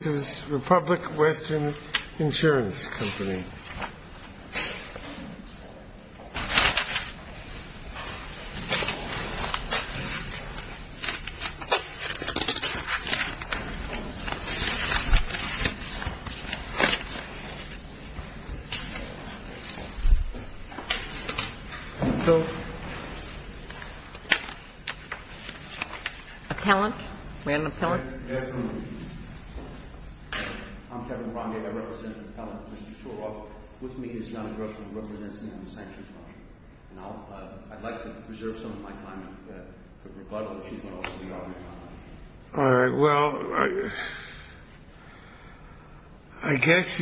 Company. Appellant? Is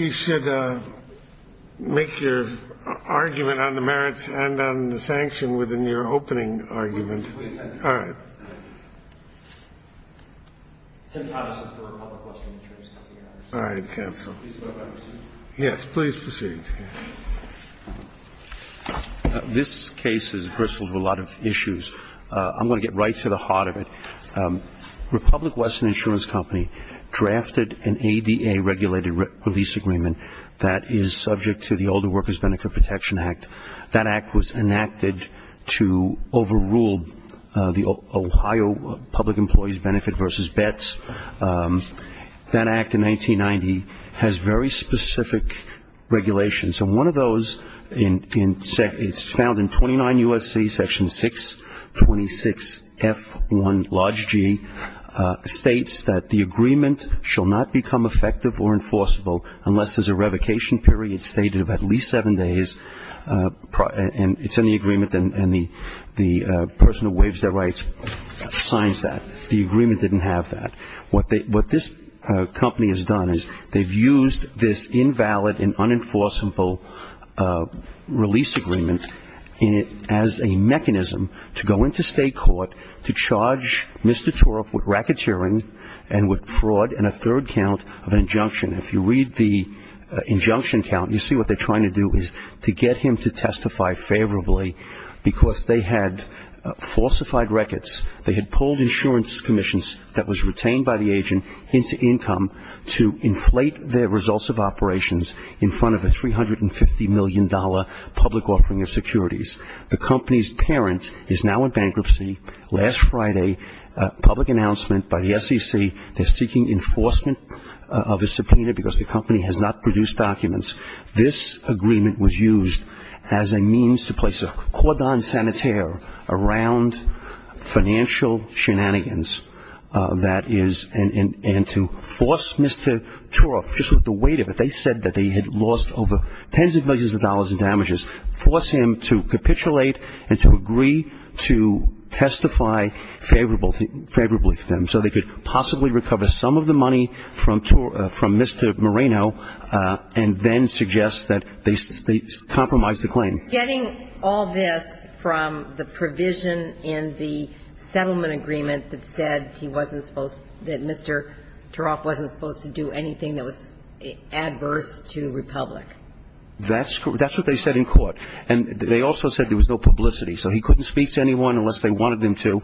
there an argument on the merits and on the sanction within your opening argument? I'm going to get right to the heart of it. Republic Western Insurance Company drafted an ADA-regulated release agreement that is subject to the Older Workers Benefit Protection Act. That act was enacted to overrule the Ohio Public Employees Benefit versus bets. That act in 1990 has very specific regulations. One of those is found in 29 U.S.C. Section 626F1, large G, states that the agreement shall not become effective or enforceable unless there's a revocation period stated of at least seven days, and it's in the agreement, and the person who waives their rights signs that. The agreement didn't have that. What this company has done is they've used this invalid and unenforceable release agreement as a mechanism to go into state court to charge Mr. Toroff with racketeering and with fraud and a third count of an injunction. If you read the injunction count, you see what they're trying to do is to get him to testify favorably because they had falsified records. They had pulled insurance commissions that was retained by the agent into income to inflate their results of operations in front of a $350 million public offering of securities. The company's parent is now in bankruptcy. Last Friday, public announcement by the SEC, they're seeking enforcement of a subpoena because the company has not produced documents. This agreement was used as a means to place a cordon sanitaire around financial shenanigans that is, and to force Mr. Toroff, just with the weight of it, they said that he had lost over tens of millions of dollars in damages. Force him to capitulate and to agree to testify favorably to them so they could possibly recover some of the money from Mr. Moreno and then suggest that they compromise the claim. Getting all this from the provision in the settlement agreement that said he wasn't supposed that Mr. Toroff wasn't supposed to do anything that was adverse to Republic. That's what they said in court. And they also said there was no publicity. So he couldn't speak to anyone unless they wanted him to.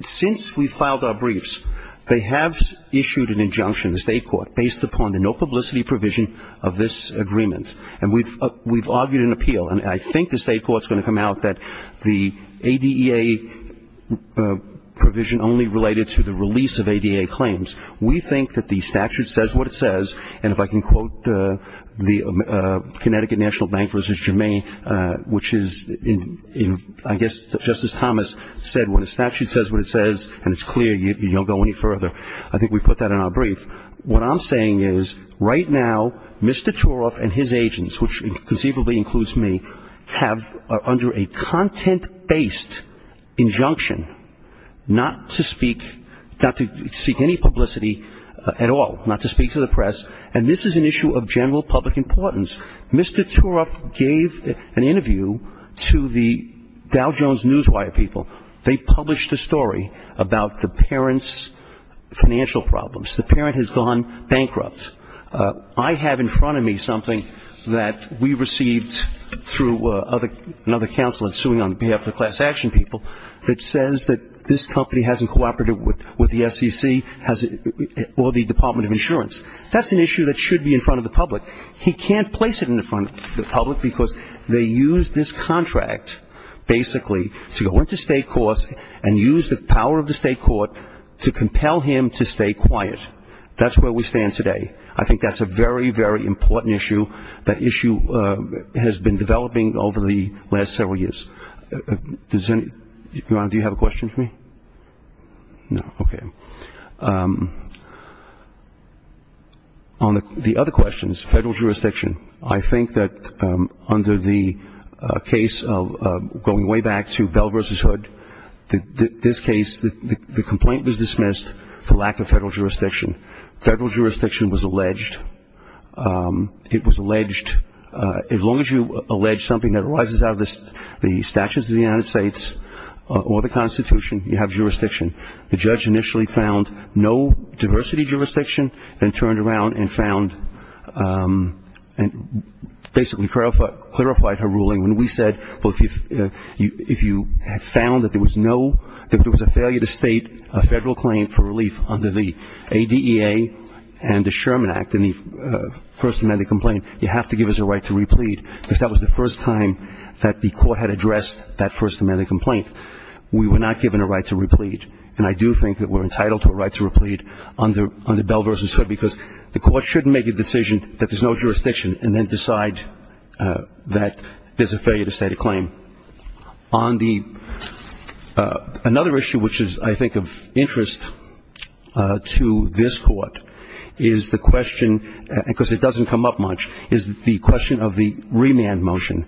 Since we filed our briefs, they have issued an injunction, the state court, based upon the no publicity provision of this agreement. And we've argued an appeal. And I think the state court's going to come out that the ADEA provision only related to the release of ADEA claims. We think that the statute says what it says. And if I can quote the Connecticut National Bank v. Germain, which is, I guess, just as Thomas said, when a statute says what it says, and it's clear, you don't go any further. I think we put that in our brief. What I'm saying is, right now, Mr. Toroff and his agents, which conceivably includes me, have under a content-based injunction not to speak, not to seek any publicity at all, not to speak to the press. And this is an issue of general public importance. Mr. Toroff gave an interview to the Dow Jones Newswire people. They published a story about the parent's financial problems. The parent has gone bankrupt. I have in front of me something that we received through another counselor suing on behalf of the class action people that says that this company hasn't cooperated with the SEC or the Department of Insurance. That's an issue that should be in front of the public. He can't place it in front of the public because they used this contract, basically, to go into state courts and use the power of the state court to compel him to stay quiet. That's where we stand today. I think that's a very, very important issue. That issue has been developing over the last several years. Your Honor, do you have a question for me? No, okay. On the other questions, federal jurisdiction, I think that under the case of going way back to Bell v. Hood, this case, the complaint was dismissed for lack of federal jurisdiction. Federal jurisdiction was alleged. It was alleged, as long as you allege something that arises out of the statutes of the United States or the Constitution, you have jurisdiction. The judge initially found no diversity jurisdiction and turned around and found, basically, clarified her ruling when we said, if you have found that there was a failure to state a federal claim for relief under the ADEA and the Sherman Act and the First Amendment complaint, you have to give us a right to replead because that was the first time that the court had addressed that First Amendment complaint. We were not given a right to replead, and I do think that we're entitled to a right to replead under Bell v. Hood because the court shouldn't make a decision that there's no jurisdiction and then decide that there's a failure to state a claim. On the – another issue which is, I think, of interest to this court is the question – because it doesn't come up much – is the question of the remand motion.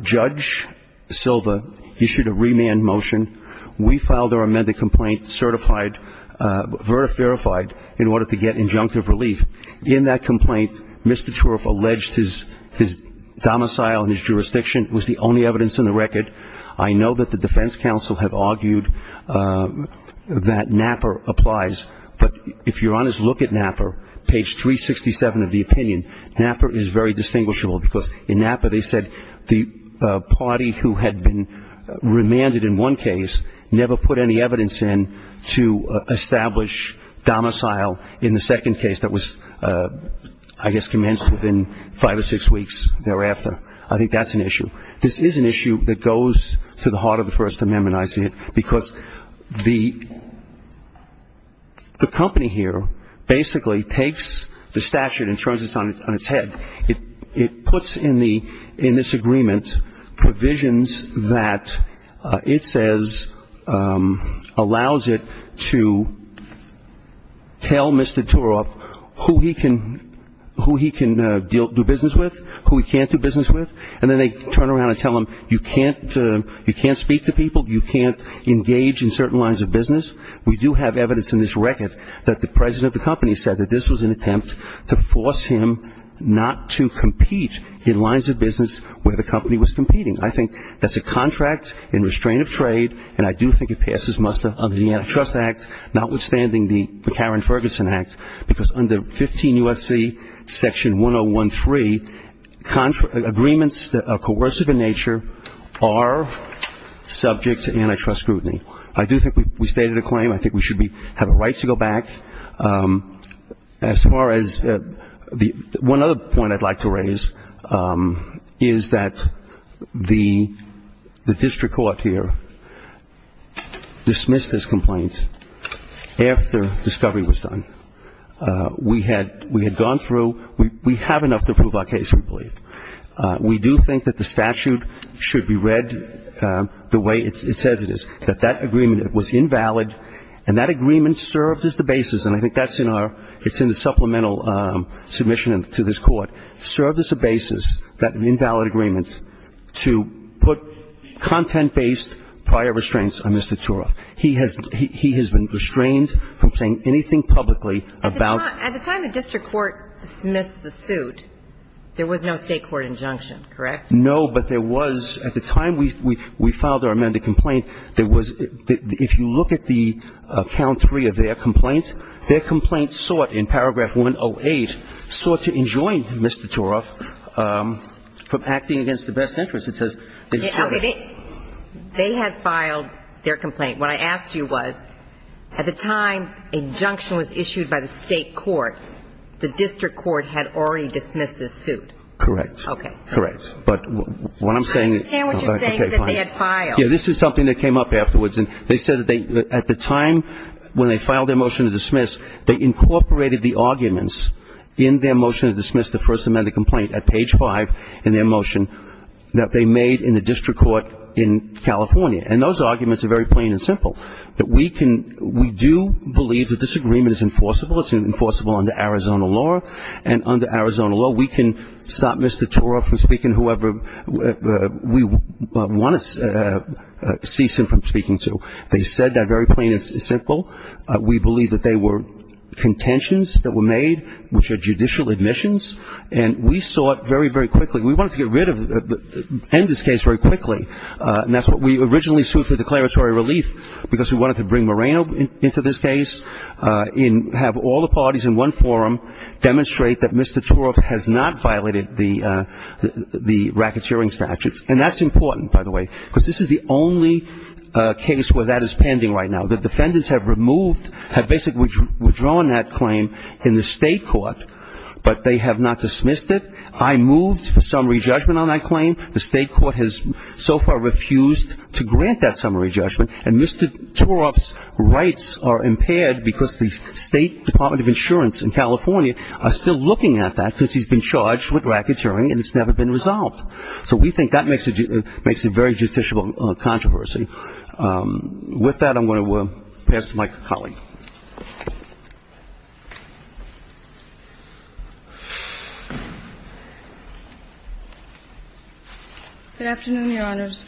Judge Silva issued a remand motion. We filed our amended complaint certified – verified in order to get injunctive relief. In that complaint, Mr. Turov alleged his domicile and his jurisdiction was the only evidence in the record. I know that the defense counsel had argued that NAPR applies, but if you're on his look at NAPR, page 367 of the opinion, NAPR is very distinguishable because in NAPR they said the party who had been remanded in one case never put any evidence in to establish domicile in the second case that was, I guess, commenced within five or six weeks thereafter. I think that's an issue. This is an issue that goes to the heart of the First Amendment, I see it, because the company here basically takes the statute and turns it on its head. It puts in this agreement provisions that it says allows it to tell Mr. Turov who he can do business with, who he can't do business with, and then they turn around and tell him you can't speak to people, you can't engage in certain lines of business. We do have evidence in this record that the president of the company said that this was an attempt to force him not to compete in lines of business where the company was competing. I think that's a contract in restraint of trade, and I do think it passes muster under the Antitrust Act, notwithstanding the Karen Ferguson Act, because under 15 U.S.C. section 103, agreements that are coercive in nature are subject to antitrust scrutiny. I do think we stated a claim. I think we should have a right to go back. As far as the one other point I'd like to raise is that the district court here dismissed this complaint after discovery was done. We had gone through, we have enough to prove our case, we believe. We do think that the statute should be read the way it says it is, that that agreement was invalid, and that agreement served as the basis, and I think that's in our ‑‑ it's in the supplemental submission to this Court, served as a basis, that invalid agreement, to put content-based prior restraints on Mr. Tura. He has been restrained from saying anything publicly about ‑‑ At the time the district court dismissed the suit, there was no State court injunction, correct? No, but there was, at the time we filed our amended complaint, there was, if you look at the count three of their complaints, their complaint sought, in paragraph 108, sought to enjoin Mr. Tura from acting against the best interest. It says that he served ‑‑ Okay. They had filed their complaint. What I asked you was, at the time injunction was issued by the State court, the district court had already dismissed the suit. Correct. Okay. Correct. But what I'm saying ‑‑ I understand what you're saying is that they had filed. This is something that came up afterwards, and they said at the time when they filed their motion to dismiss, they incorporated the arguments in their motion to dismiss the first amended complaint at page five in their motion that they made in the district court in California. And those arguments are very plain and simple. That we can ‑‑ we do believe that this agreement is enforceable. It's enforceable under Arizona law. And under Arizona law, we can stop Mr. Tura from speaking to whoever we want to cease him from speaking to. They said that very plain and simple. We believe that they were contentions that were made, which are judicial admissions, and we sought very, very quickly. We wanted to get rid of ‑‑ end this case very quickly. And that's what we originally sued for declaratory relief, because we wanted to bring Moreno into this case and have all the parties in one forum demonstrate that Mr. Tura has not violated the racketeering statutes. And that's important, by the way, because this is the only case where that is pending right now. The defendants have removed, have basically withdrawn that claim in the State court, but they have not dismissed it. I moved for summary judgment on that claim. The State court has so far refused to grant that summary judgment. And Mr. Tura's rights are impaired because the State Department of Insurance in California are still looking at that because he's been charged with racketeering and it's never been resolved. So we think that makes it very judicial controversy. With that, I'm going to pass it to my colleague. Good afternoon, Your Honors.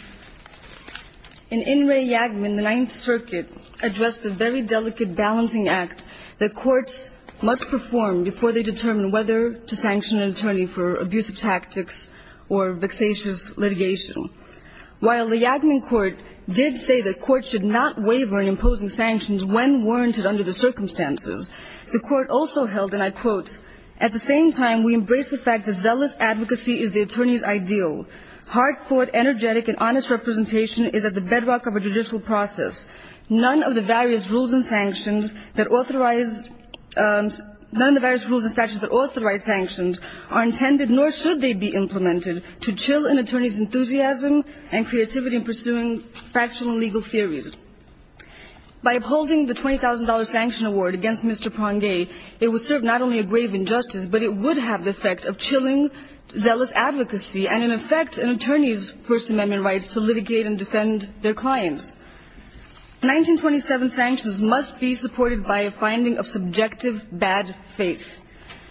In In re Yagmin, the Ninth Circuit addressed the very delicate balancing act that courts must perform before they determine whether to sanction an attorney for abusive tactics or vexatious litigation. While the Yagmin court did say the court should not waver in imposing sanctions when warranted under the circumstances, the court also held, and I quote, at the same time we embrace the fact that zealous advocacy is the attorney's ideal. Hard-fought, energetic, and honest representation is at the bedrock of a judicial process. None of the various rules and sanctions that authorize, none of the various rules and statutes that authorize sanctions are intended, nor should they be implemented, to chill an attorney's enthusiasm and creativity in pursuing factual and legal theories. By upholding the $20,000 sanction award against Mr. Prangay, it would serve not only a grave injustice, but it would have the effect of chilling zealous advocacy and, in effect, an attorney's First Amendment rights to litigate and defend their clients. Nineteen twenty-seven sanctions must be supported by a finding of subjective bad faith.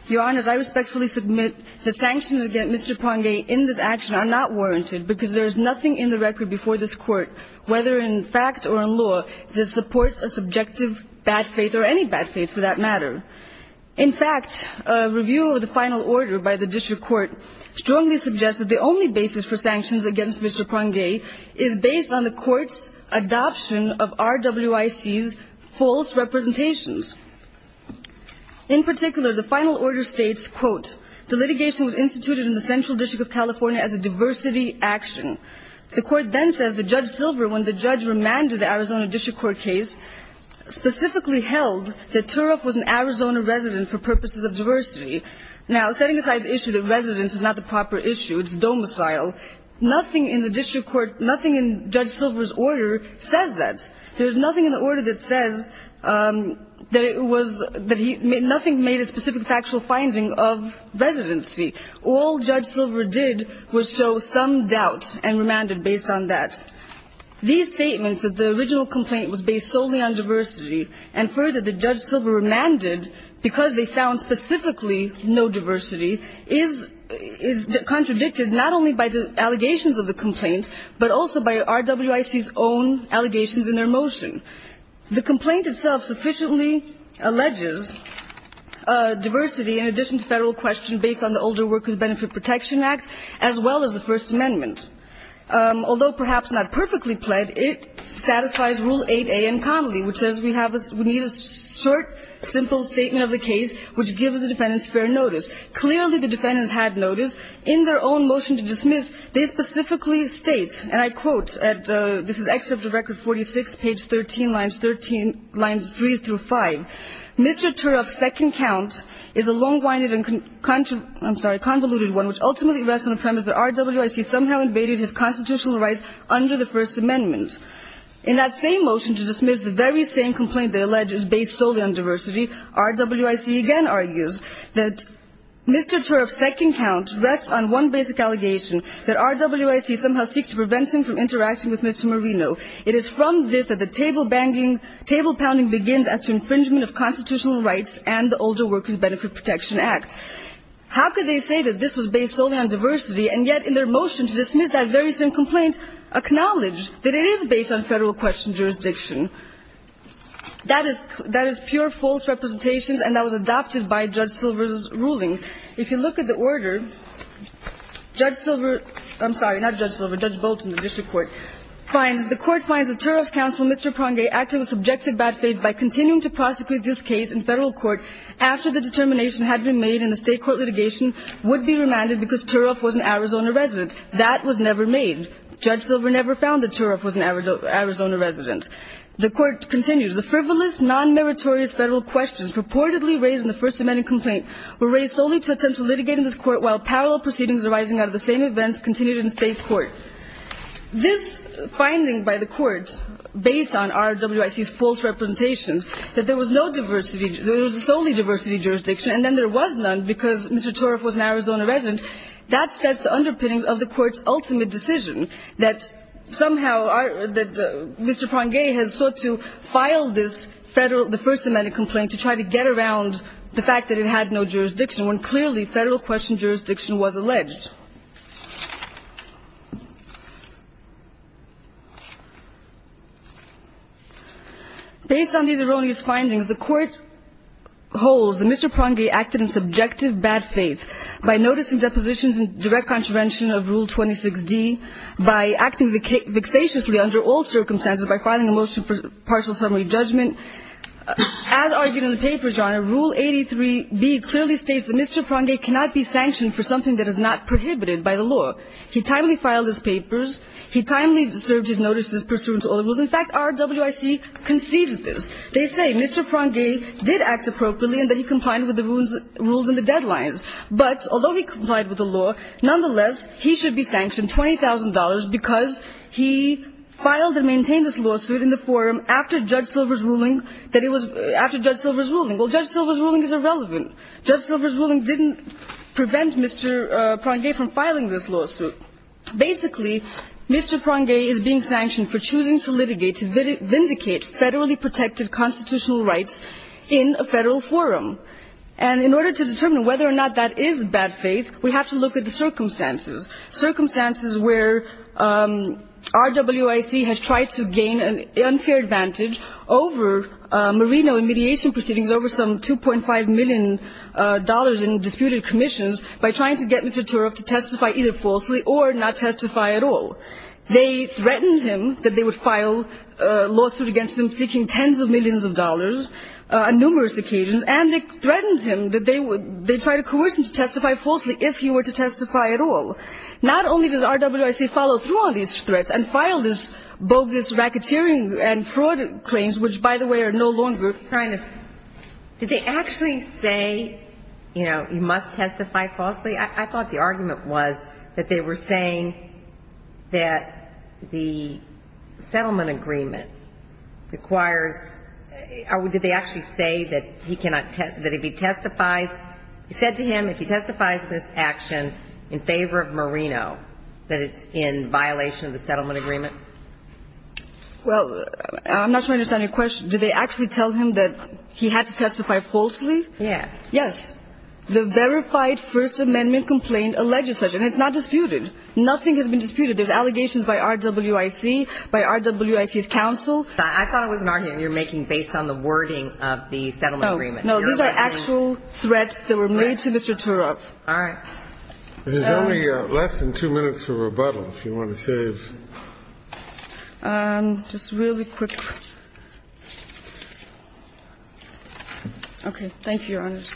Your Honors, I respectfully submit the sanctions against Mr. Prangay in this action are not warranted because there is nothing in the record before this Court, whether in fact or in law, that supports a subjective bad faith, or any bad faith for that matter. In fact, a review of the final order by the District Court strongly suggests that the only basis for sanctions against Mr. Prangay is based on the Court's adoption of RWIC's false representations. In particular, the final order states, quote, the litigation was instituted in the Central District of California as a diversity action. The Court then says that Judge Silver, when the judge remanded the Arizona District Court case, specifically held that Turov was an Arizona resident for purposes of diversity. Now, setting aside the issue that residence is not the proper issue, it's domicile, nothing in the District Court, nothing in Judge Silver's order says that. There is nothing in the order that says that it was that he – nothing made a specific factual finding of residency. All Judge Silver did was show some doubt and remanded based on that. These statements that the original complaint was based solely on diversity, and further, that Judge Silver remanded because they found specifically no diversity, is – is contradicted not only by the allegations of the complaint, but also by RWIC's own allegations in their motion. The complaint itself sufficiently alleges diversity in addition to Federal question based on the Older Workers Benefit Protection Act, as well as the First Amendment. Although perhaps not perfectly pled, it satisfies Rule 8a in Connolly, which says we have a – we need a short, simple statement of the case which gives the defendants fair notice. Clearly, the defendants had notice. In their own motion to dismiss, they specifically state, and I quote at – this is Excerpt of Record 46, page 13, lines 13 – lines 3 through 5. Mr. Turoff's second count is a long-winded and – I'm sorry, convoluted one, which ultimately rests on the premise that RWIC somehow invaded his constitutional rights under the First Amendment. In that same motion to dismiss, the very same complaint they allege is based solely on diversity, RWIC again argues that Mr. Turoff's second count rests on one basic allegation, that RWIC somehow seeks to prevent him from interacting with Mr. Marino. It is from this that the table-banging – table-pounding begins as to infringement of constitutional rights and the Older Workers Benefit Protection Act. How could they say that this was based solely on diversity, and yet in their motion to dismiss that very same complaint acknowledge that it is based on Federal question jurisdiction? That is – that is pure false representations, and that was adopted by Judge Silver's ruling. If you look at the order, Judge Silver – I'm sorry, not Judge Silver, Judge Bolton, the district court – finds – the court finds that Turoff's counsel, Mr. Prange, acted with subjective bad faith by continuing to prosecute this case in Federal court after the determination had been made in the State court litigation would be remanded because Turoff was an Arizona resident. That was never made. Judge Silver never found that Turoff was an Arizona resident. The court continues. The frivolous, non-meritorious Federal questions purportedly raised in the First Amendment complaint were raised solely to attempt to litigate in this court while parallel proceedings arising out of the same events continued in State court. This finding by the court, based on RWIC's false representations, that there was no diversity – there was solely diversity jurisdiction, and then there was none because Mr. Turoff was an Arizona resident, that sets the underpinnings of the court's ultimate decision, that somehow our – that Mr. Prange has sought to file this Federal – the First Amendment complaint to try to get around the fact that it had no jurisdiction when clearly Federal-questioned jurisdiction was alleged. Based on these erroneous findings, the court holds that Mr. Prange acted in subjective bad faith by noticing depositions and direct contravention of Rule 26D, by acting vexatiously under all circumstances, by filing a motion for partial summary judgment. As argued in the papers, Your Honor, Rule 83B clearly states that Mr. Prange cannot be sanctioned for something that is not prohibited by the law. He timely filed his papers. He timely served his notices pursuant to all the rules. In fact, RWIC concedes this. They say Mr. Prange did act appropriately and that he complied with the rules in the deadlines. But although he complied with the law, nonetheless, he should be sanctioned $20,000 because he filed and maintained this lawsuit in the forum after Judge Silver's ruling. Well, Judge Silver's ruling is irrelevant. Judge Silver's ruling didn't prevent Mr. Prange from filing this lawsuit. Basically, Mr. Prange is being sanctioned for choosing to litigate to vindicate federally protected constitutional rights in a Federal forum. And in order to determine whether or not that is bad faith, we have to look at the circumstances, circumstances where RWIC has tried to gain an unfair advantage over Marino in mediation proceedings over some $2.5 million in disputed commissions by trying to get Mr. Turok to testify either falsely or not testify at all. They threatened him that they would file a lawsuit against him seeking tens of millions of dollars on numerous occasions, and they threatened him that they would they tried to coerce him to testify falsely if he were to testify at all. Not only does RWIC follow through on these threats and file this bogus racketeering and fraud claims, which, by the way, are no longer trying to do. Did they actually say, you know, you must testify falsely? I thought the argument was that they were saying that the settlement agreement requires or did they actually say that he cannot, that if he testifies, said to him if he testifies in this action in favor of Marino, that it's in violation of the settlement agreement? Well, I'm not sure I understand your question. Did they actually tell him that he had to testify falsely? Yeah. Yes. The verified First Amendment complaint alleges such, and it's not disputed. Nothing has been disputed. There's allegations by RWIC, by RWIC's counsel. I thought it was an argument you're making based on the wording of the settlement agreement. No, these are actual threats that were made to Mr. Turok. All right. There's only less than two minutes for rebuttal, if you want to save. Just really quick. Thank you, Your Honors.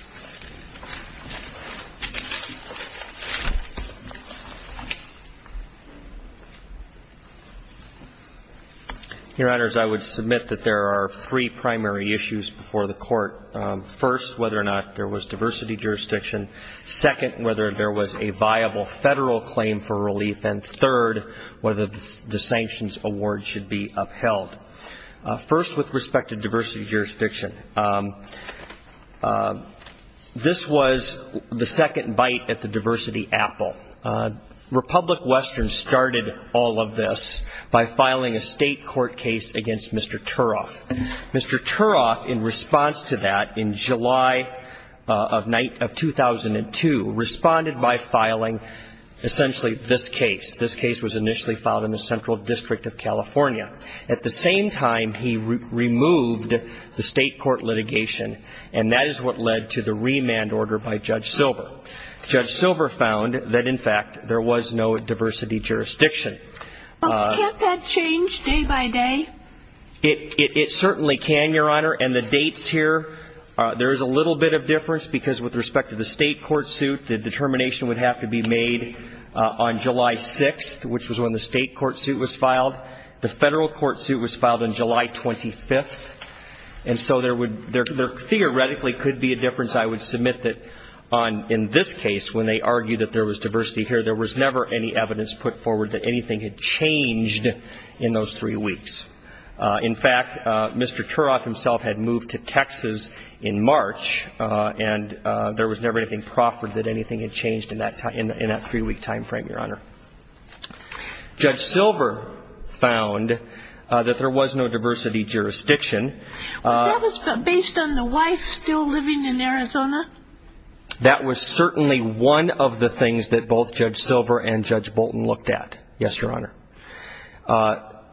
Your Honors, I would submit that there are three primary issues before the Court. First, whether or not there was diversity jurisdiction. Second, whether there was a viable federal claim for relief. And third, whether the sanctions award should be upheld. First, with respect to diversity jurisdiction, this was the second bite at the diversity apple. Republic Western started all of this by filing a state court case against Mr. Turok. Mr. Turok, in response to that, in July of 2002, responded by filing essentially this case. This case was initially filed in the Central District of California. At the same time, he removed the state court litigation, and that is what led to the remand order by Judge Silver. Judge Silver found that, in fact, there was no diversity jurisdiction. Well, can't that change day by day? It certainly can, Your Honor. And the dates here, there is a little bit of difference because, with respect to the state court suit, the determination would have to be made on July 6th, which was when the state court suit was filed. The federal court suit was filed on July 25th. And so there theoretically could be a difference. I would submit that, in this case, when they argued that there was diversity here, there was never any evidence put forward that anything had changed in those three weeks. In fact, Mr. Turok himself had moved to Texas in March, and there was never anything proffered that anything had changed in that three-week time frame, Your Honor. Judge Silver found that there was no diversity jurisdiction. That was based on the wife still living in Arizona? That was certainly one of the things that both Judge Silver and Judge Bolton looked at, yes, Your Honor.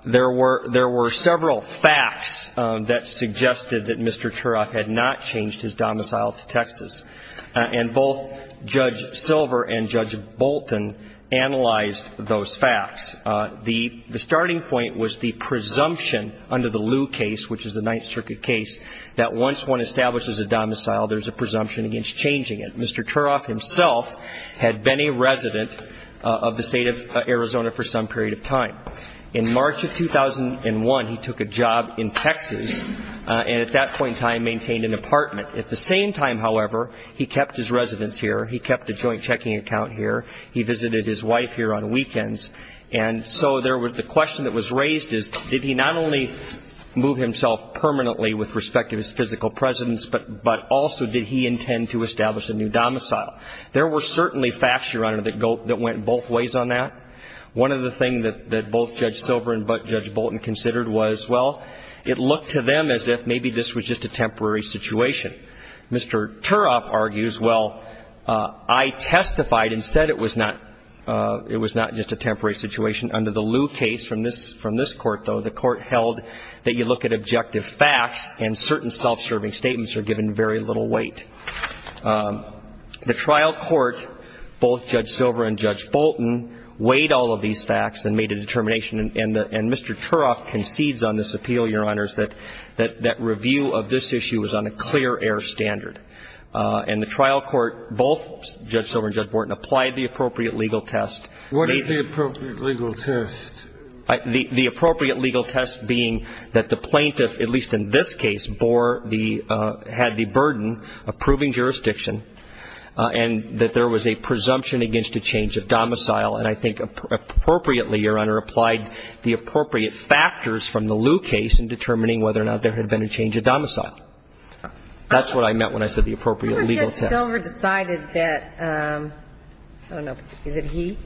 There were several facts that suggested that Mr. Turok had not changed his domicile to Texas. And both Judge Silver and Judge Bolton analyzed those facts. The starting point was the presumption under the Lew case, which is a Ninth Circuit case, that once one establishes a domicile, there's a presumption against changing it. Mr. Turok himself had been a resident of the state of Arizona for some period of time. In March of 2001, he took a job in Texas, and at that point in time, maintained an apartment. At the same time, however, he kept his residence here. He kept a joint checking account here. He visited his wife here on weekends. And so the question that was raised is, did he not only move himself permanently with respect to his physical presence, but also did he intend to establish a new domicile? There were certainly facts, Your Honor, that went both ways on that. One of the things that both Judge Silver and Judge Bolton considered was, well, it looked to them as if maybe this was just a temporary situation. Mr. Turok argues, well, I testified and said it was not just a temporary situation. Under the Lew case from this Court, though, the Court held that you look at objective facts and certain self-serving statements are given very little weight. The trial court, both Judge Silver and Judge Bolton, weighed all of these facts and made a determination. And Mr. Turok concedes on this appeal, Your Honors, that that review of this issue was on a clear air standard. And the trial court, both Judge Silver and Judge Bolton, applied the appropriate legal test. What is the appropriate legal test? The appropriate legal test being that the plaintiff, at least in this case, bore the, had the burden of proving jurisdiction and that there was a presumption against a change of domicile. And I think appropriately, Your Honor, applied the appropriate factors from the Lew case in determining whether or not there had been a change of domicile. That's what I meant when I said the appropriate legal test. But Judge Silver decided that, I don't know, is it he?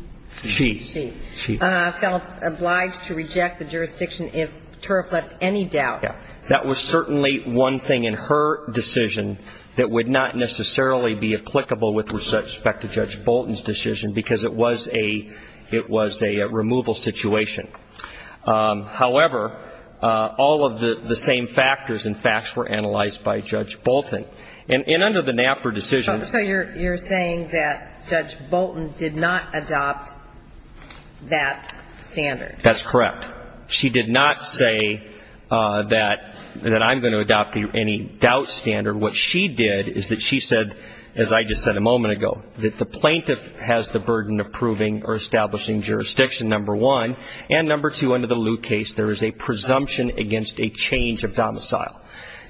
She. She. She felt obliged to reject the jurisdiction if Turok left any doubt. That was certainly one thing in her decision that would not necessarily be applicable with respect to Judge Bolton's decision because it was a, it was a removal situation. However, all of the same factors and facts were analyzed by Judge Bolton. And under the Knapper decision. So you're saying that Judge Bolton did not adopt that standard. That's correct. But she did not say that, that I'm going to adopt any doubt standard. What she did is that she said, as I just said a moment ago, that the plaintiff has the burden of proving or establishing jurisdiction, number one. And number two, under the Lew case, there is a presumption against a change of domicile.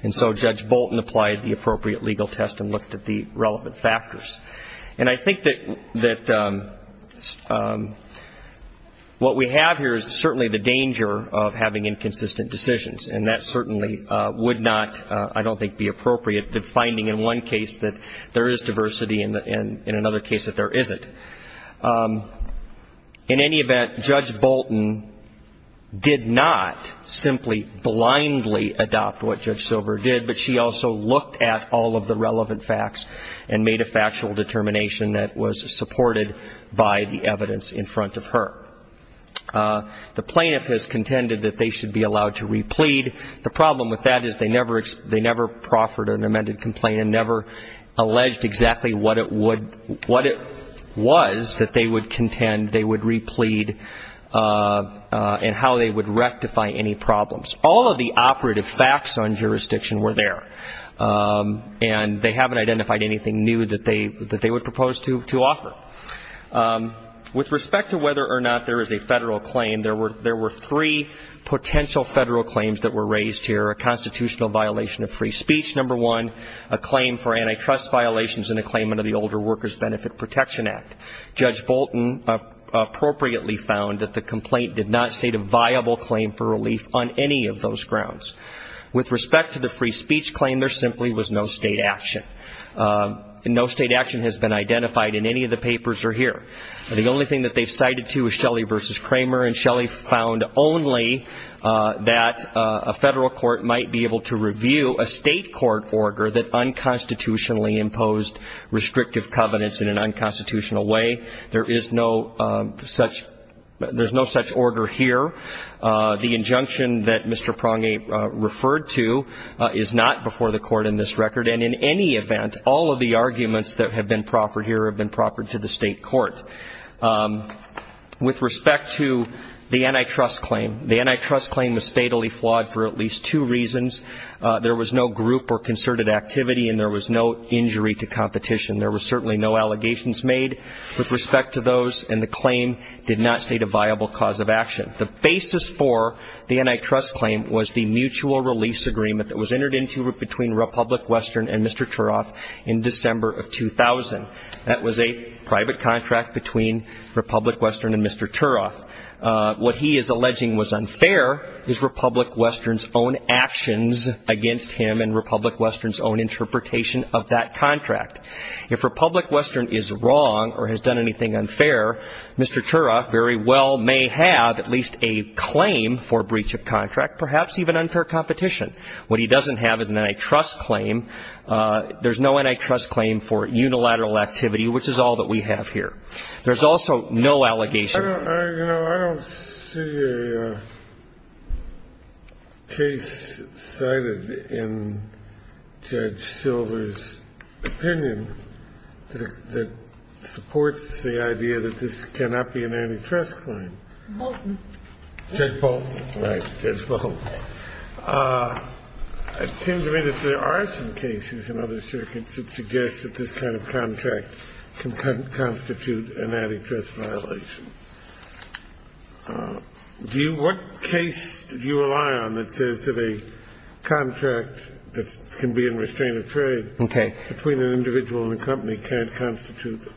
And so Judge Bolton applied the appropriate legal test and looked at the relevant factors. And I think that what we have here is certainly the danger of having inconsistent decisions. And that certainly would not, I don't think, be appropriate to finding in one case that there is diversity and in another case that there isn't. In any event, Judge Bolton did not simply blindly adopt what Judge Silber did, but she also looked at all of the relevant facts and made a factual determination that was supported by the evidence in front of her. The plaintiff has contended that they should be allowed to re-plead. The problem with that is they never proffered an amended complaint and never alleged exactly what it would, what it was that they would contend they would re-plead and how they would rectify any problems. All of the operative facts on jurisdiction were there, and they haven't identified anything new that they would propose to offer. With respect to whether or not there is a federal claim, there were three potential federal claims that were raised here, a constitutional violation of free speech, number one, a claim for antitrust violations, and a claim under the Older Workers Benefit Protection Act. Judge Bolton appropriately found that the complaint did not state a viable claim for relief on any of those grounds. With respect to the free speech claim, there simply was no state action, and no state action has been identified in any of the papers or here. The only thing that they've cited to is Shelley v. Kramer, and Shelley found only that a federal court might be able to review a state court order that unconstitutionally imposed restrictive covenants in an unconstitutional way. There is no such order here. The injunction that Mr. Prange referred to is not before the court in this record, and in any event, all of the arguments that have been proffered here have been proffered to the state court. With respect to the antitrust claim, the antitrust claim was fatally flawed for at least two reasons. There was no group or concerted activity, and there was no injury to competition. There were certainly no allegations made with respect to those, and the claim did not state a viable cause of action. The basis for the antitrust claim was the mutual release agreement that was entered into between Republic Western and Mr. Turoff in December of 2000. That was a private contract between Republic Western and Mr. Turoff. What he is alleging was unfair is Republic Western's own actions against him and Republic Western's own interpretation of that contract. If Republic Western is wrong or has done anything unfair, Mr. Turoff very well may have at least a claim for breach of contract, perhaps even unfair competition. What he doesn't have is an antitrust claim. There's no antitrust claim for unilateral activity, which is all that we have here. There's also no allegation. I don't see a case cited in Judge Silver's opinion that supports the idea that this cannot be an antitrust claim. Judge Bolton. Right. Judge Bolton. It seems to me that there are some cases in other circuits that suggest that this kind of contract can constitute an antitrust violation. What case do you rely on that says that a contract that can be in restraint of trade between an individual and a company can't constitute?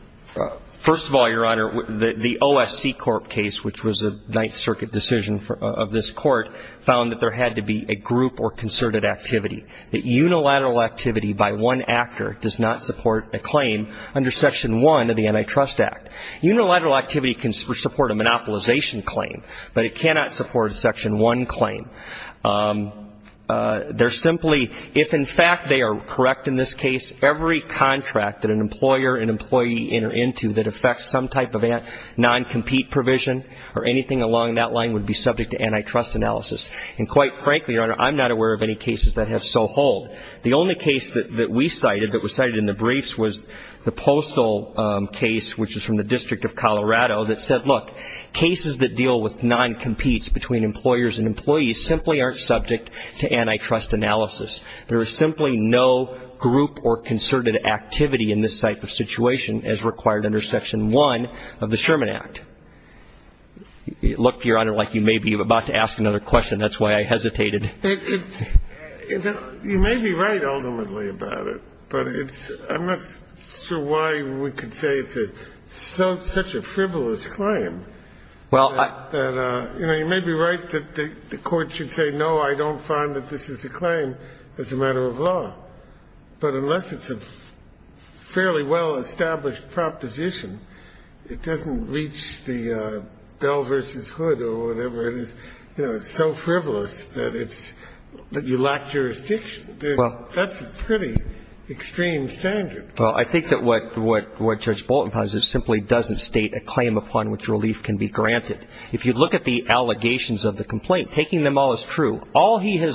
First of all, Your Honor, the OSC Corp case, which was a Ninth Circuit decision of this Court, found that there had to be a group or concerted activity. That unilateral activity by one actor does not support a claim under Section 1 of the Antitrust Act. Unilateral activity can support a monopolization claim, but it cannot support a Section 1 claim. They're simply, if in fact they are correct in this case, every contract that an employer and employee enter into that affects some type of non-compete provision or anything along that line would be subject to antitrust analysis. And quite frankly, Your Honor, I'm not aware of any cases that have so hold. The only case that we cited that was cited in the briefs was the Postal case, which is from the District of Colorado, that said, look, cases that deal with non-competes between employers and employees simply aren't subject to antitrust analysis. There is simply no group or concerted activity in this type of situation as required under Section 1 of the Sherman Act. Look, Your Honor, like you may be about to ask another question. That's why I hesitated. You may be right ultimately about it, but I'm not sure why we could say it's such a frivolous claim. You may be right that the Court should say, no, I don't find that this is a claim as a matter of law. But unless it's a fairly well-established proposition, it doesn't reach the bell versus hood or whatever it is. You know, it's so frivolous that it's you lack jurisdiction. That's a pretty extreme standard. Well, I think that what Judge Bolton has is simply doesn't state a claim upon which relief can be granted. If you look at the allegations of the complaint, taking them all as true, all he has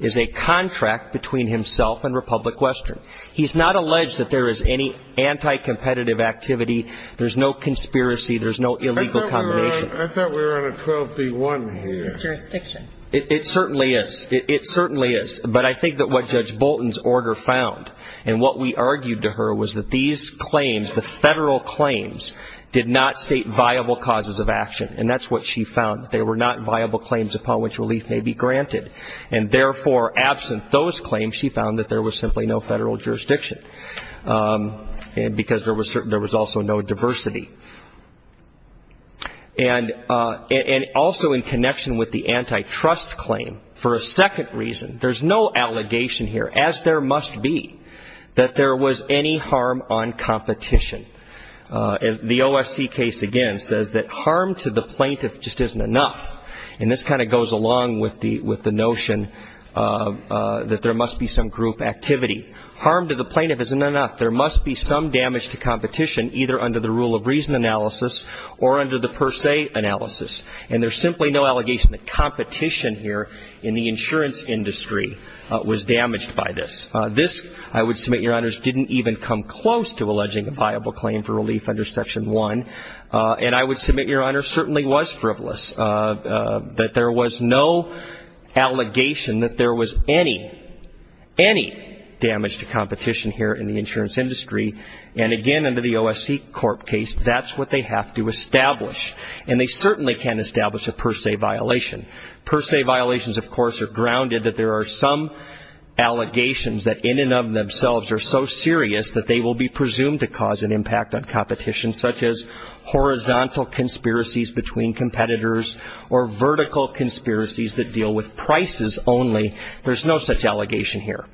is a contract between himself and Republic Western. He's not alleged that there is any anti-competitive activity. There's no conspiracy. There's no illegal combination. I thought we were on a 12B1 here. It's jurisdiction. It certainly is. It certainly is. But I think that what Judge Bolton's order found and what we argued to her was that these claims, the federal claims, did not state viable causes of action. And that's what she found. They were not viable claims upon which relief may be granted. And, therefore, absent those claims, she found that there was simply no federal jurisdiction. And because there was also no diversity. And also in connection with the antitrust claim, for a second reason, there's no allegation here, as there must be, that there was any harm on competition. The OSC case, again, says that harm to the plaintiff just isn't enough. And this kind of goes along with the notion that there must be some group activity. Harm to the plaintiff isn't enough. There must be some damage to competition either under the rule of reason analysis or under the per se analysis. And there's simply no allegation that competition here in the insurance industry was damaged by this. This, I would submit, Your Honors, didn't even come close to alleging a viable claim for relief under Section 1. And I would submit, Your Honors, certainly was frivolous. That there was no allegation that there was any, any damage to competition here in the insurance industry. And, again, under the OSC Corp case, that's what they have to establish. And they certainly can't establish a per se violation. Per se violations, of course, are grounded that there are some allegations that in and of themselves are so serious that they will be presumed to cause an impact on competition such as horizontal conspiracies between competitors or vertical conspiracies that deal with prices only. There's no such allegation here.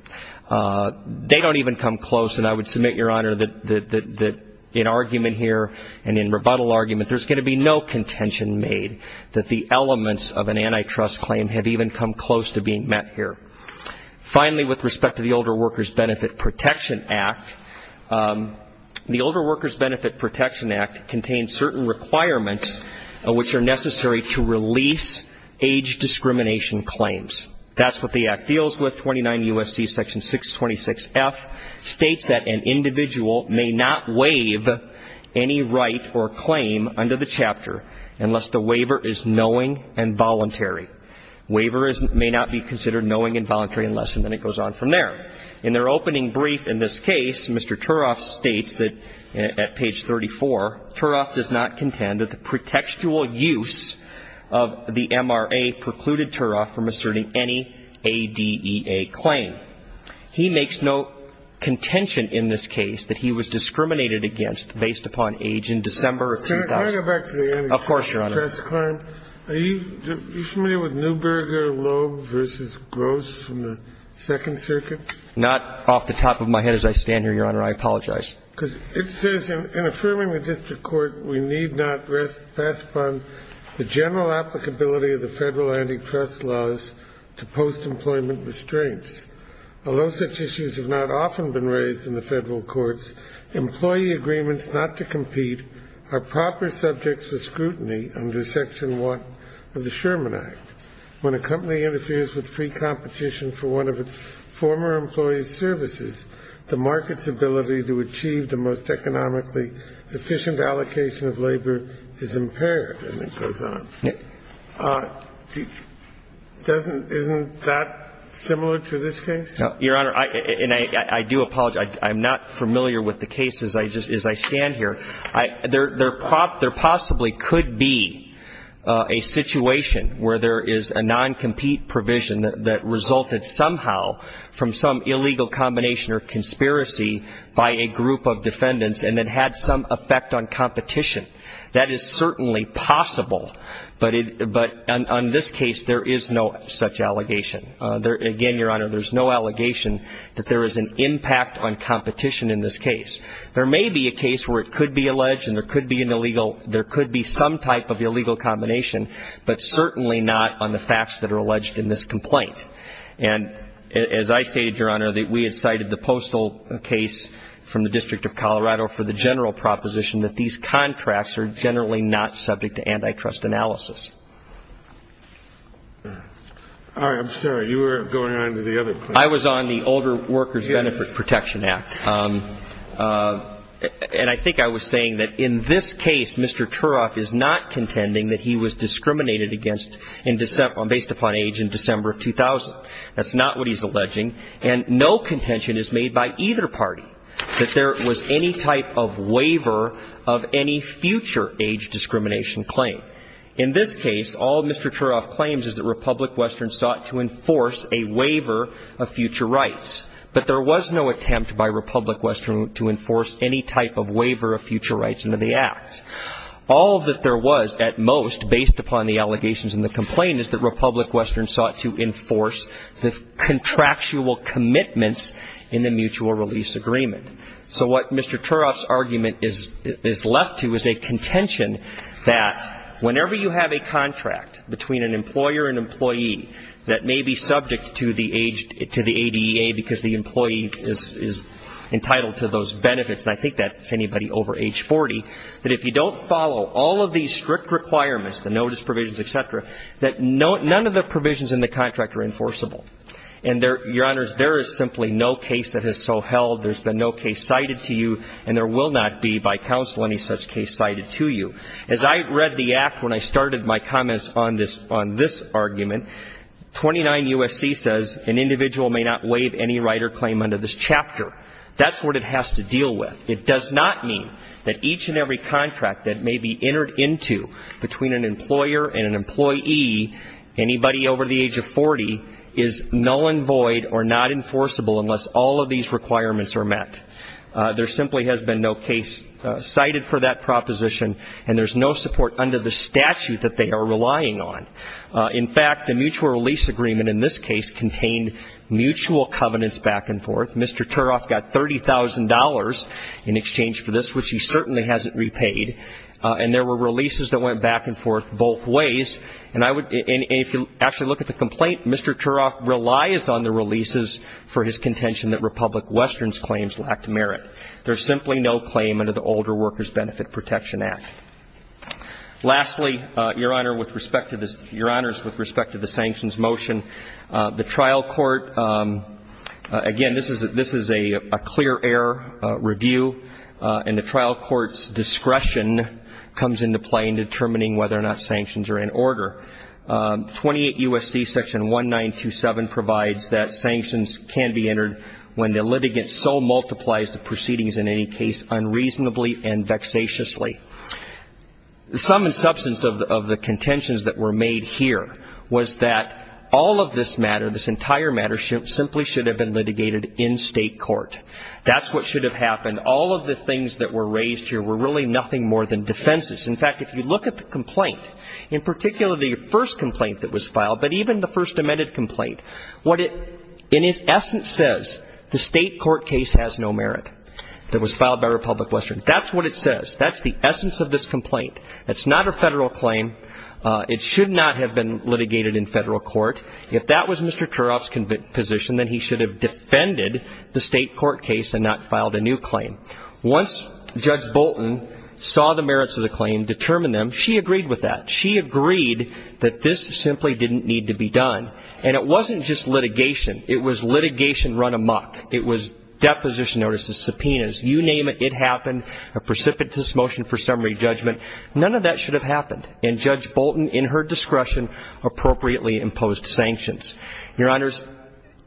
They don't even come close. And I would submit, Your Honor, that in argument here and in rebuttal argument, there's going to be no contention made that the elements of an antitrust claim have even come close to being met here. Finally, with respect to the Older Workers Benefit Protection Act, the Older Workers Benefit Protection Act contains certain requirements which are necessary to release age discrimination claims. That's what the Act deals with. 29 U.S.C. Section 626F states that an individual may not waive any right or claim under the chapter unless the waiver is knowing and voluntary. Waiver may not be considered knowing and voluntary unless and then it goes on from there. In their opening brief in this case, Mr. Turoff states that at page 34, Turoff does not contend that the pretextual use of the MRA precluded Turoff from asserting any ADEA claim. He makes no contention in this case that he was discriminated against based upon age in December of 2000. Can I go back to the ante? Of course, Your Honor. Are you familiar with Neuberger Loeb v. Gross from the Second Circuit? Not off the top of my head as I stand here, Your Honor. I apologize. Because it says in affirming the district court, we need not pass upon the general applicability of the Federal antitrust laws to post-employment restraints. Although such issues have not often been raised in the Federal courts, employee agreements not to compete are proper subjects for scrutiny under Section 1 of the Sherman Act. When a company interferes with free competition for one of its former employees' services, the market's ability to achieve the most economically efficient allocation of labor is impaired. And it goes on. Isn't that similar to this case? No. Your Honor, and I do apologize. I'm not familiar with the case as I stand here. There possibly could be a situation where there is a non-compete provision that resulted somehow from some illegal combination or conspiracy by a group of defendants and it had some effect on competition. That is certainly possible. But on this case, there is no such allegation. Again, Your Honor, there is no allegation that there is an impact on competition in this case. There may be a case where it could be alleged and there could be an illegal, there could be some type of illegal combination, but certainly not on the facts that are alleged in this complaint. And as I stated, Your Honor, that we had cited the postal case from the District of Colorado for the general proposition that these contracts are generally not subject to antitrust analysis. All right. I'm sorry. You were going on to the other point. I was on the Older Workers Benefit Protection Act. Yes. And I think I was saying that in this case, Mr. Turok is not contending that he was discriminated against based upon age in December of 2000. That's not what he's alleging. And no contention is made by either party that there was any type of waiver of any future age discrimination claim. In this case, all Mr. Turok claims is that Republic Western sought to enforce a waiver of future rights. But there was no attempt by Republic Western to enforce any type of waiver of future rights under the Act. All that there was, at most, based upon the allegations in the complaint, is that Republic Western sought to enforce the contractual commitments in the mutual release agreement. So what Mr. Turok's argument is left to is a contention that whenever you have a contract between an employer and employee that may be subject to the age to the ADEA because the employee is entitled to those benefits, and I think that's anybody over age 40, that if you don't follow all of these strict requirements, the notice provisions, et cetera, that none of the provisions in the contract are enforceable. And, Your Honors, there is simply no case that has so held. There's been no case cited to you, and there will not be, by counsel, any such case cited to you. As I read the Act when I started my comments on this argument, 29 U.S.C. says an individual may not waive any right or claim under this chapter. That's what it has to deal with. It does not mean that each and every contract that may be entered into between an employer and an employee, anybody over the age of 40, is null and void or not enforceable unless all of these requirements are met. There simply has been no case cited for that proposition, and there's no support under the statute that they are relying on. In fact, the mutual release agreement in this case contained mutual covenants back and forth. Mr. Turok got $30,000 in exchange for this, which he certainly hasn't repaid, and there were releases that went back and forth both ways. And if you actually look at the complaint, Mr. Turok relies on the releases for his contention that Republic Western's claims lacked merit. There's simply no claim under the Older Workers Benefit Protection Act. Lastly, Your Honors, with respect to the sanctions motion, the trial court, again, this is a clear air review, and the trial court's discretion comes into play in determining whether or not sanctions are in order. 28 U.S.C. Section 1927 provides that sanctions can be entered when the litigant so multiplies the proceedings in any case unreasonably and vexatiously. The sum and substance of the contentions that were made here was that all of this matter, this entire matter, simply should have been litigated in state court. That's what should have happened. All of the things that were raised here were really nothing more than defenses. In fact, if you look at the complaint, in particular the first complaint that was filed, but even the first amended complaint, what it in its essence says, the state court case has no merit that was filed by Republic Western. That's what it says. That's the essence of this complaint. It's not a federal claim. It should not have been litigated in federal court. If that was Mr. Turoff's position, then he should have defended the state court case and not filed a new claim. Once Judge Bolton saw the merits of the claim, determined them, she agreed with that. She agreed that this simply didn't need to be done. And it wasn't just litigation. It was litigation run amok. It was deposition notices, subpoenas. You name it, it happened, a precipitous motion for summary judgment. None of that should have happened. And Judge Bolton, in her discretion, appropriately imposed sanctions. Your Honors,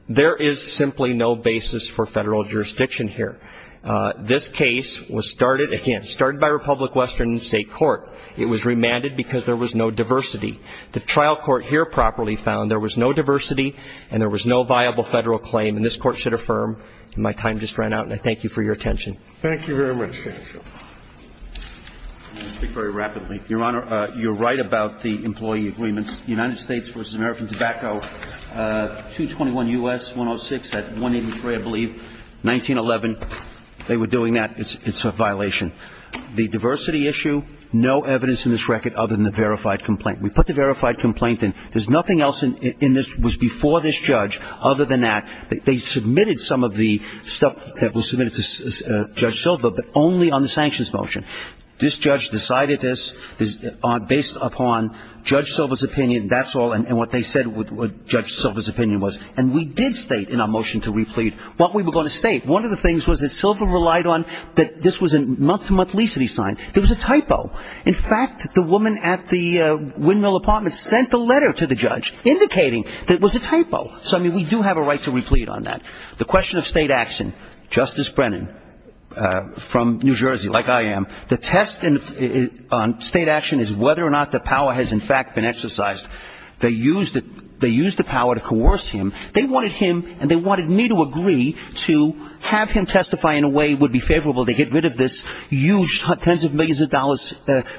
there is simply no basis for federal jurisdiction here. This case was started, again, started by Republic Western State Court. It was remanded because there was no diversity. The trial court here properly found there was no diversity and there was no viable federal claim. And this Court should affirm. My time just ran out, and I thank you for your attention. Thank you very much. I want to speak very rapidly. Your Honor, you're right about the employee agreements. United States v. American Tobacco, 221 U.S., 106 at 183, I believe, 1911. They were doing that. It's a violation. The diversity issue, no evidence in this record other than the verified complaint. We put the verified complaint in. There's nothing else in this that was before this judge other than that. They submitted some of the stuff that was submitted to Judge Silva, but only on the sanctions motion. This judge decided this based upon Judge Silva's opinion, that's all, and what they said what Judge Silva's opinion was. And we did state in our motion to replete what we were going to state. One of the things was that Silva relied on that this was a month-to-month lease that he signed. It was a typo. In fact, the woman at the windmill apartment sent a letter to the judge indicating that it was a typo. So, I mean, we do have a right to replete on that. The question of state action, Justice Brennan, from New Jersey, like I am, the test on state action is whether or not the power has, in fact, been exercised. They used the power to coerce him. They wanted him, and they wanted me to agree to have him testify in a way that would be favorable to get rid of this huge tens of millions of dollars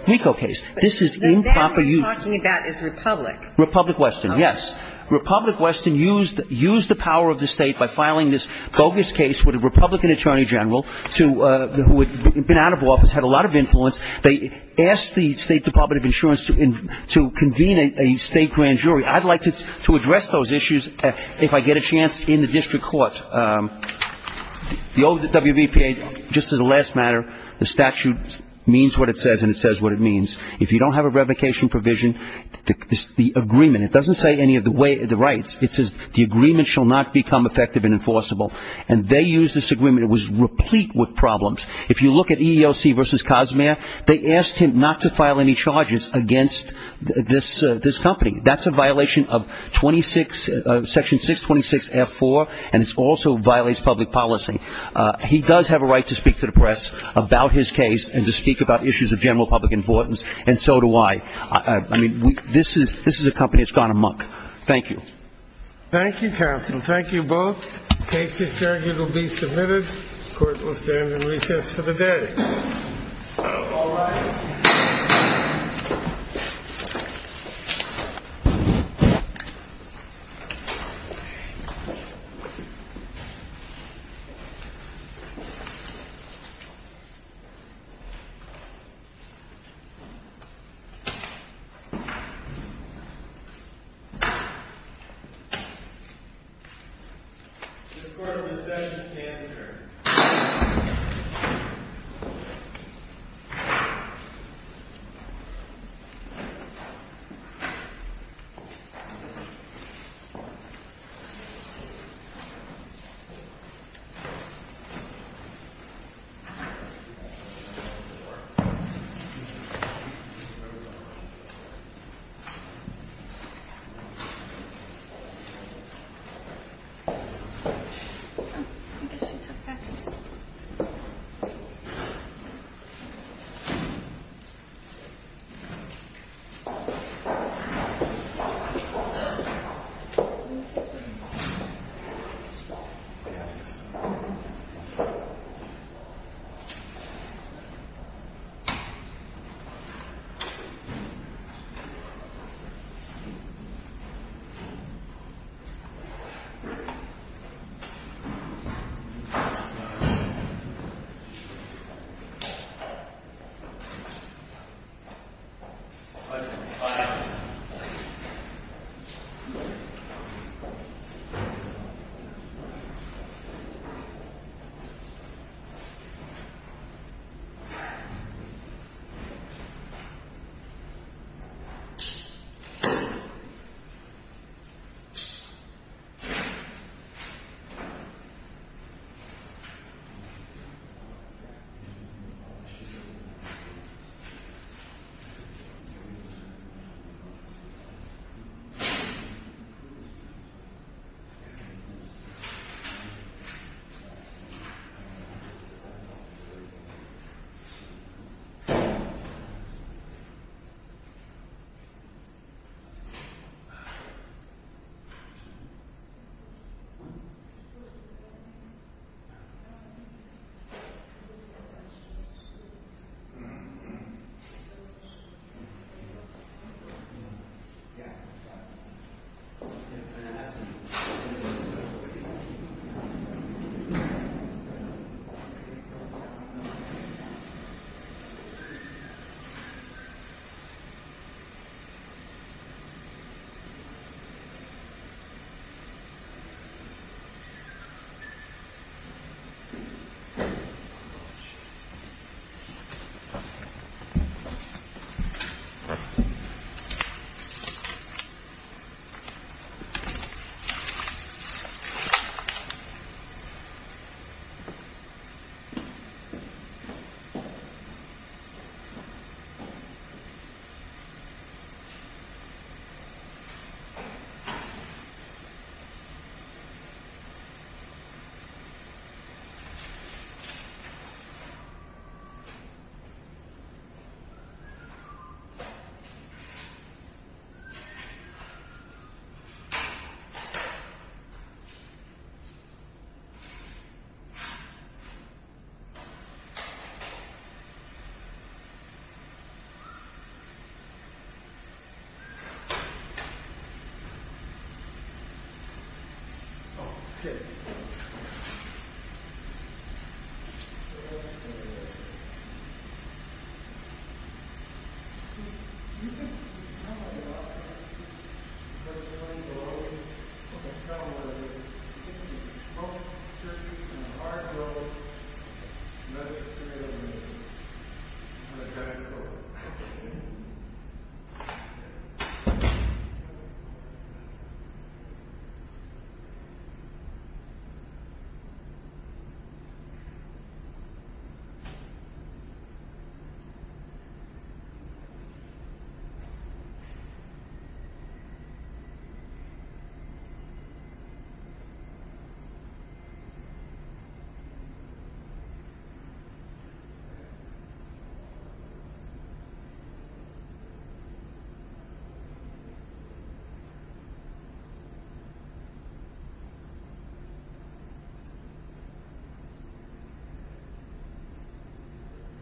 RICO case. This is improper use. What you're talking about is Republic. Republic Western, yes. Republic Western used the power of the state by filing this bogus case with a Republican attorney general who had been out of office, had a lot of influence. They asked the State Department of Insurance to convene a state grand jury. I'd like to address those issues if I get a chance in the district court. The WBPA, just as a last matter, the statute means what it says and it says what it means. If you don't have a revocation provision, the agreement, it doesn't say any of the rights. It says the agreement shall not become effective and enforceable, and they used this agreement. It was replete with problems. If you look at EEOC versus Cozumel, they asked him not to file any charges against this company. That's a violation of 26, Section 626F4, and it also violates public policy. He does have a right to speak to the press about his case and to speak about issues of general public importance, and so do I. I mean, this is a company that's gone amok. Thank you. Thank you, counsel. Thank you both. The case is adjourned. It will be submitted. The court will stand in recess for the day. All rise. This court will recess and stand adjourned. Thank you. Thank you. Thank you. Thank you. Thank you. Thank you. Thank you. Thank you. Thank you. Thank you. Thank you. Thank you. Thank you. Thank you. Thank you. Thank you.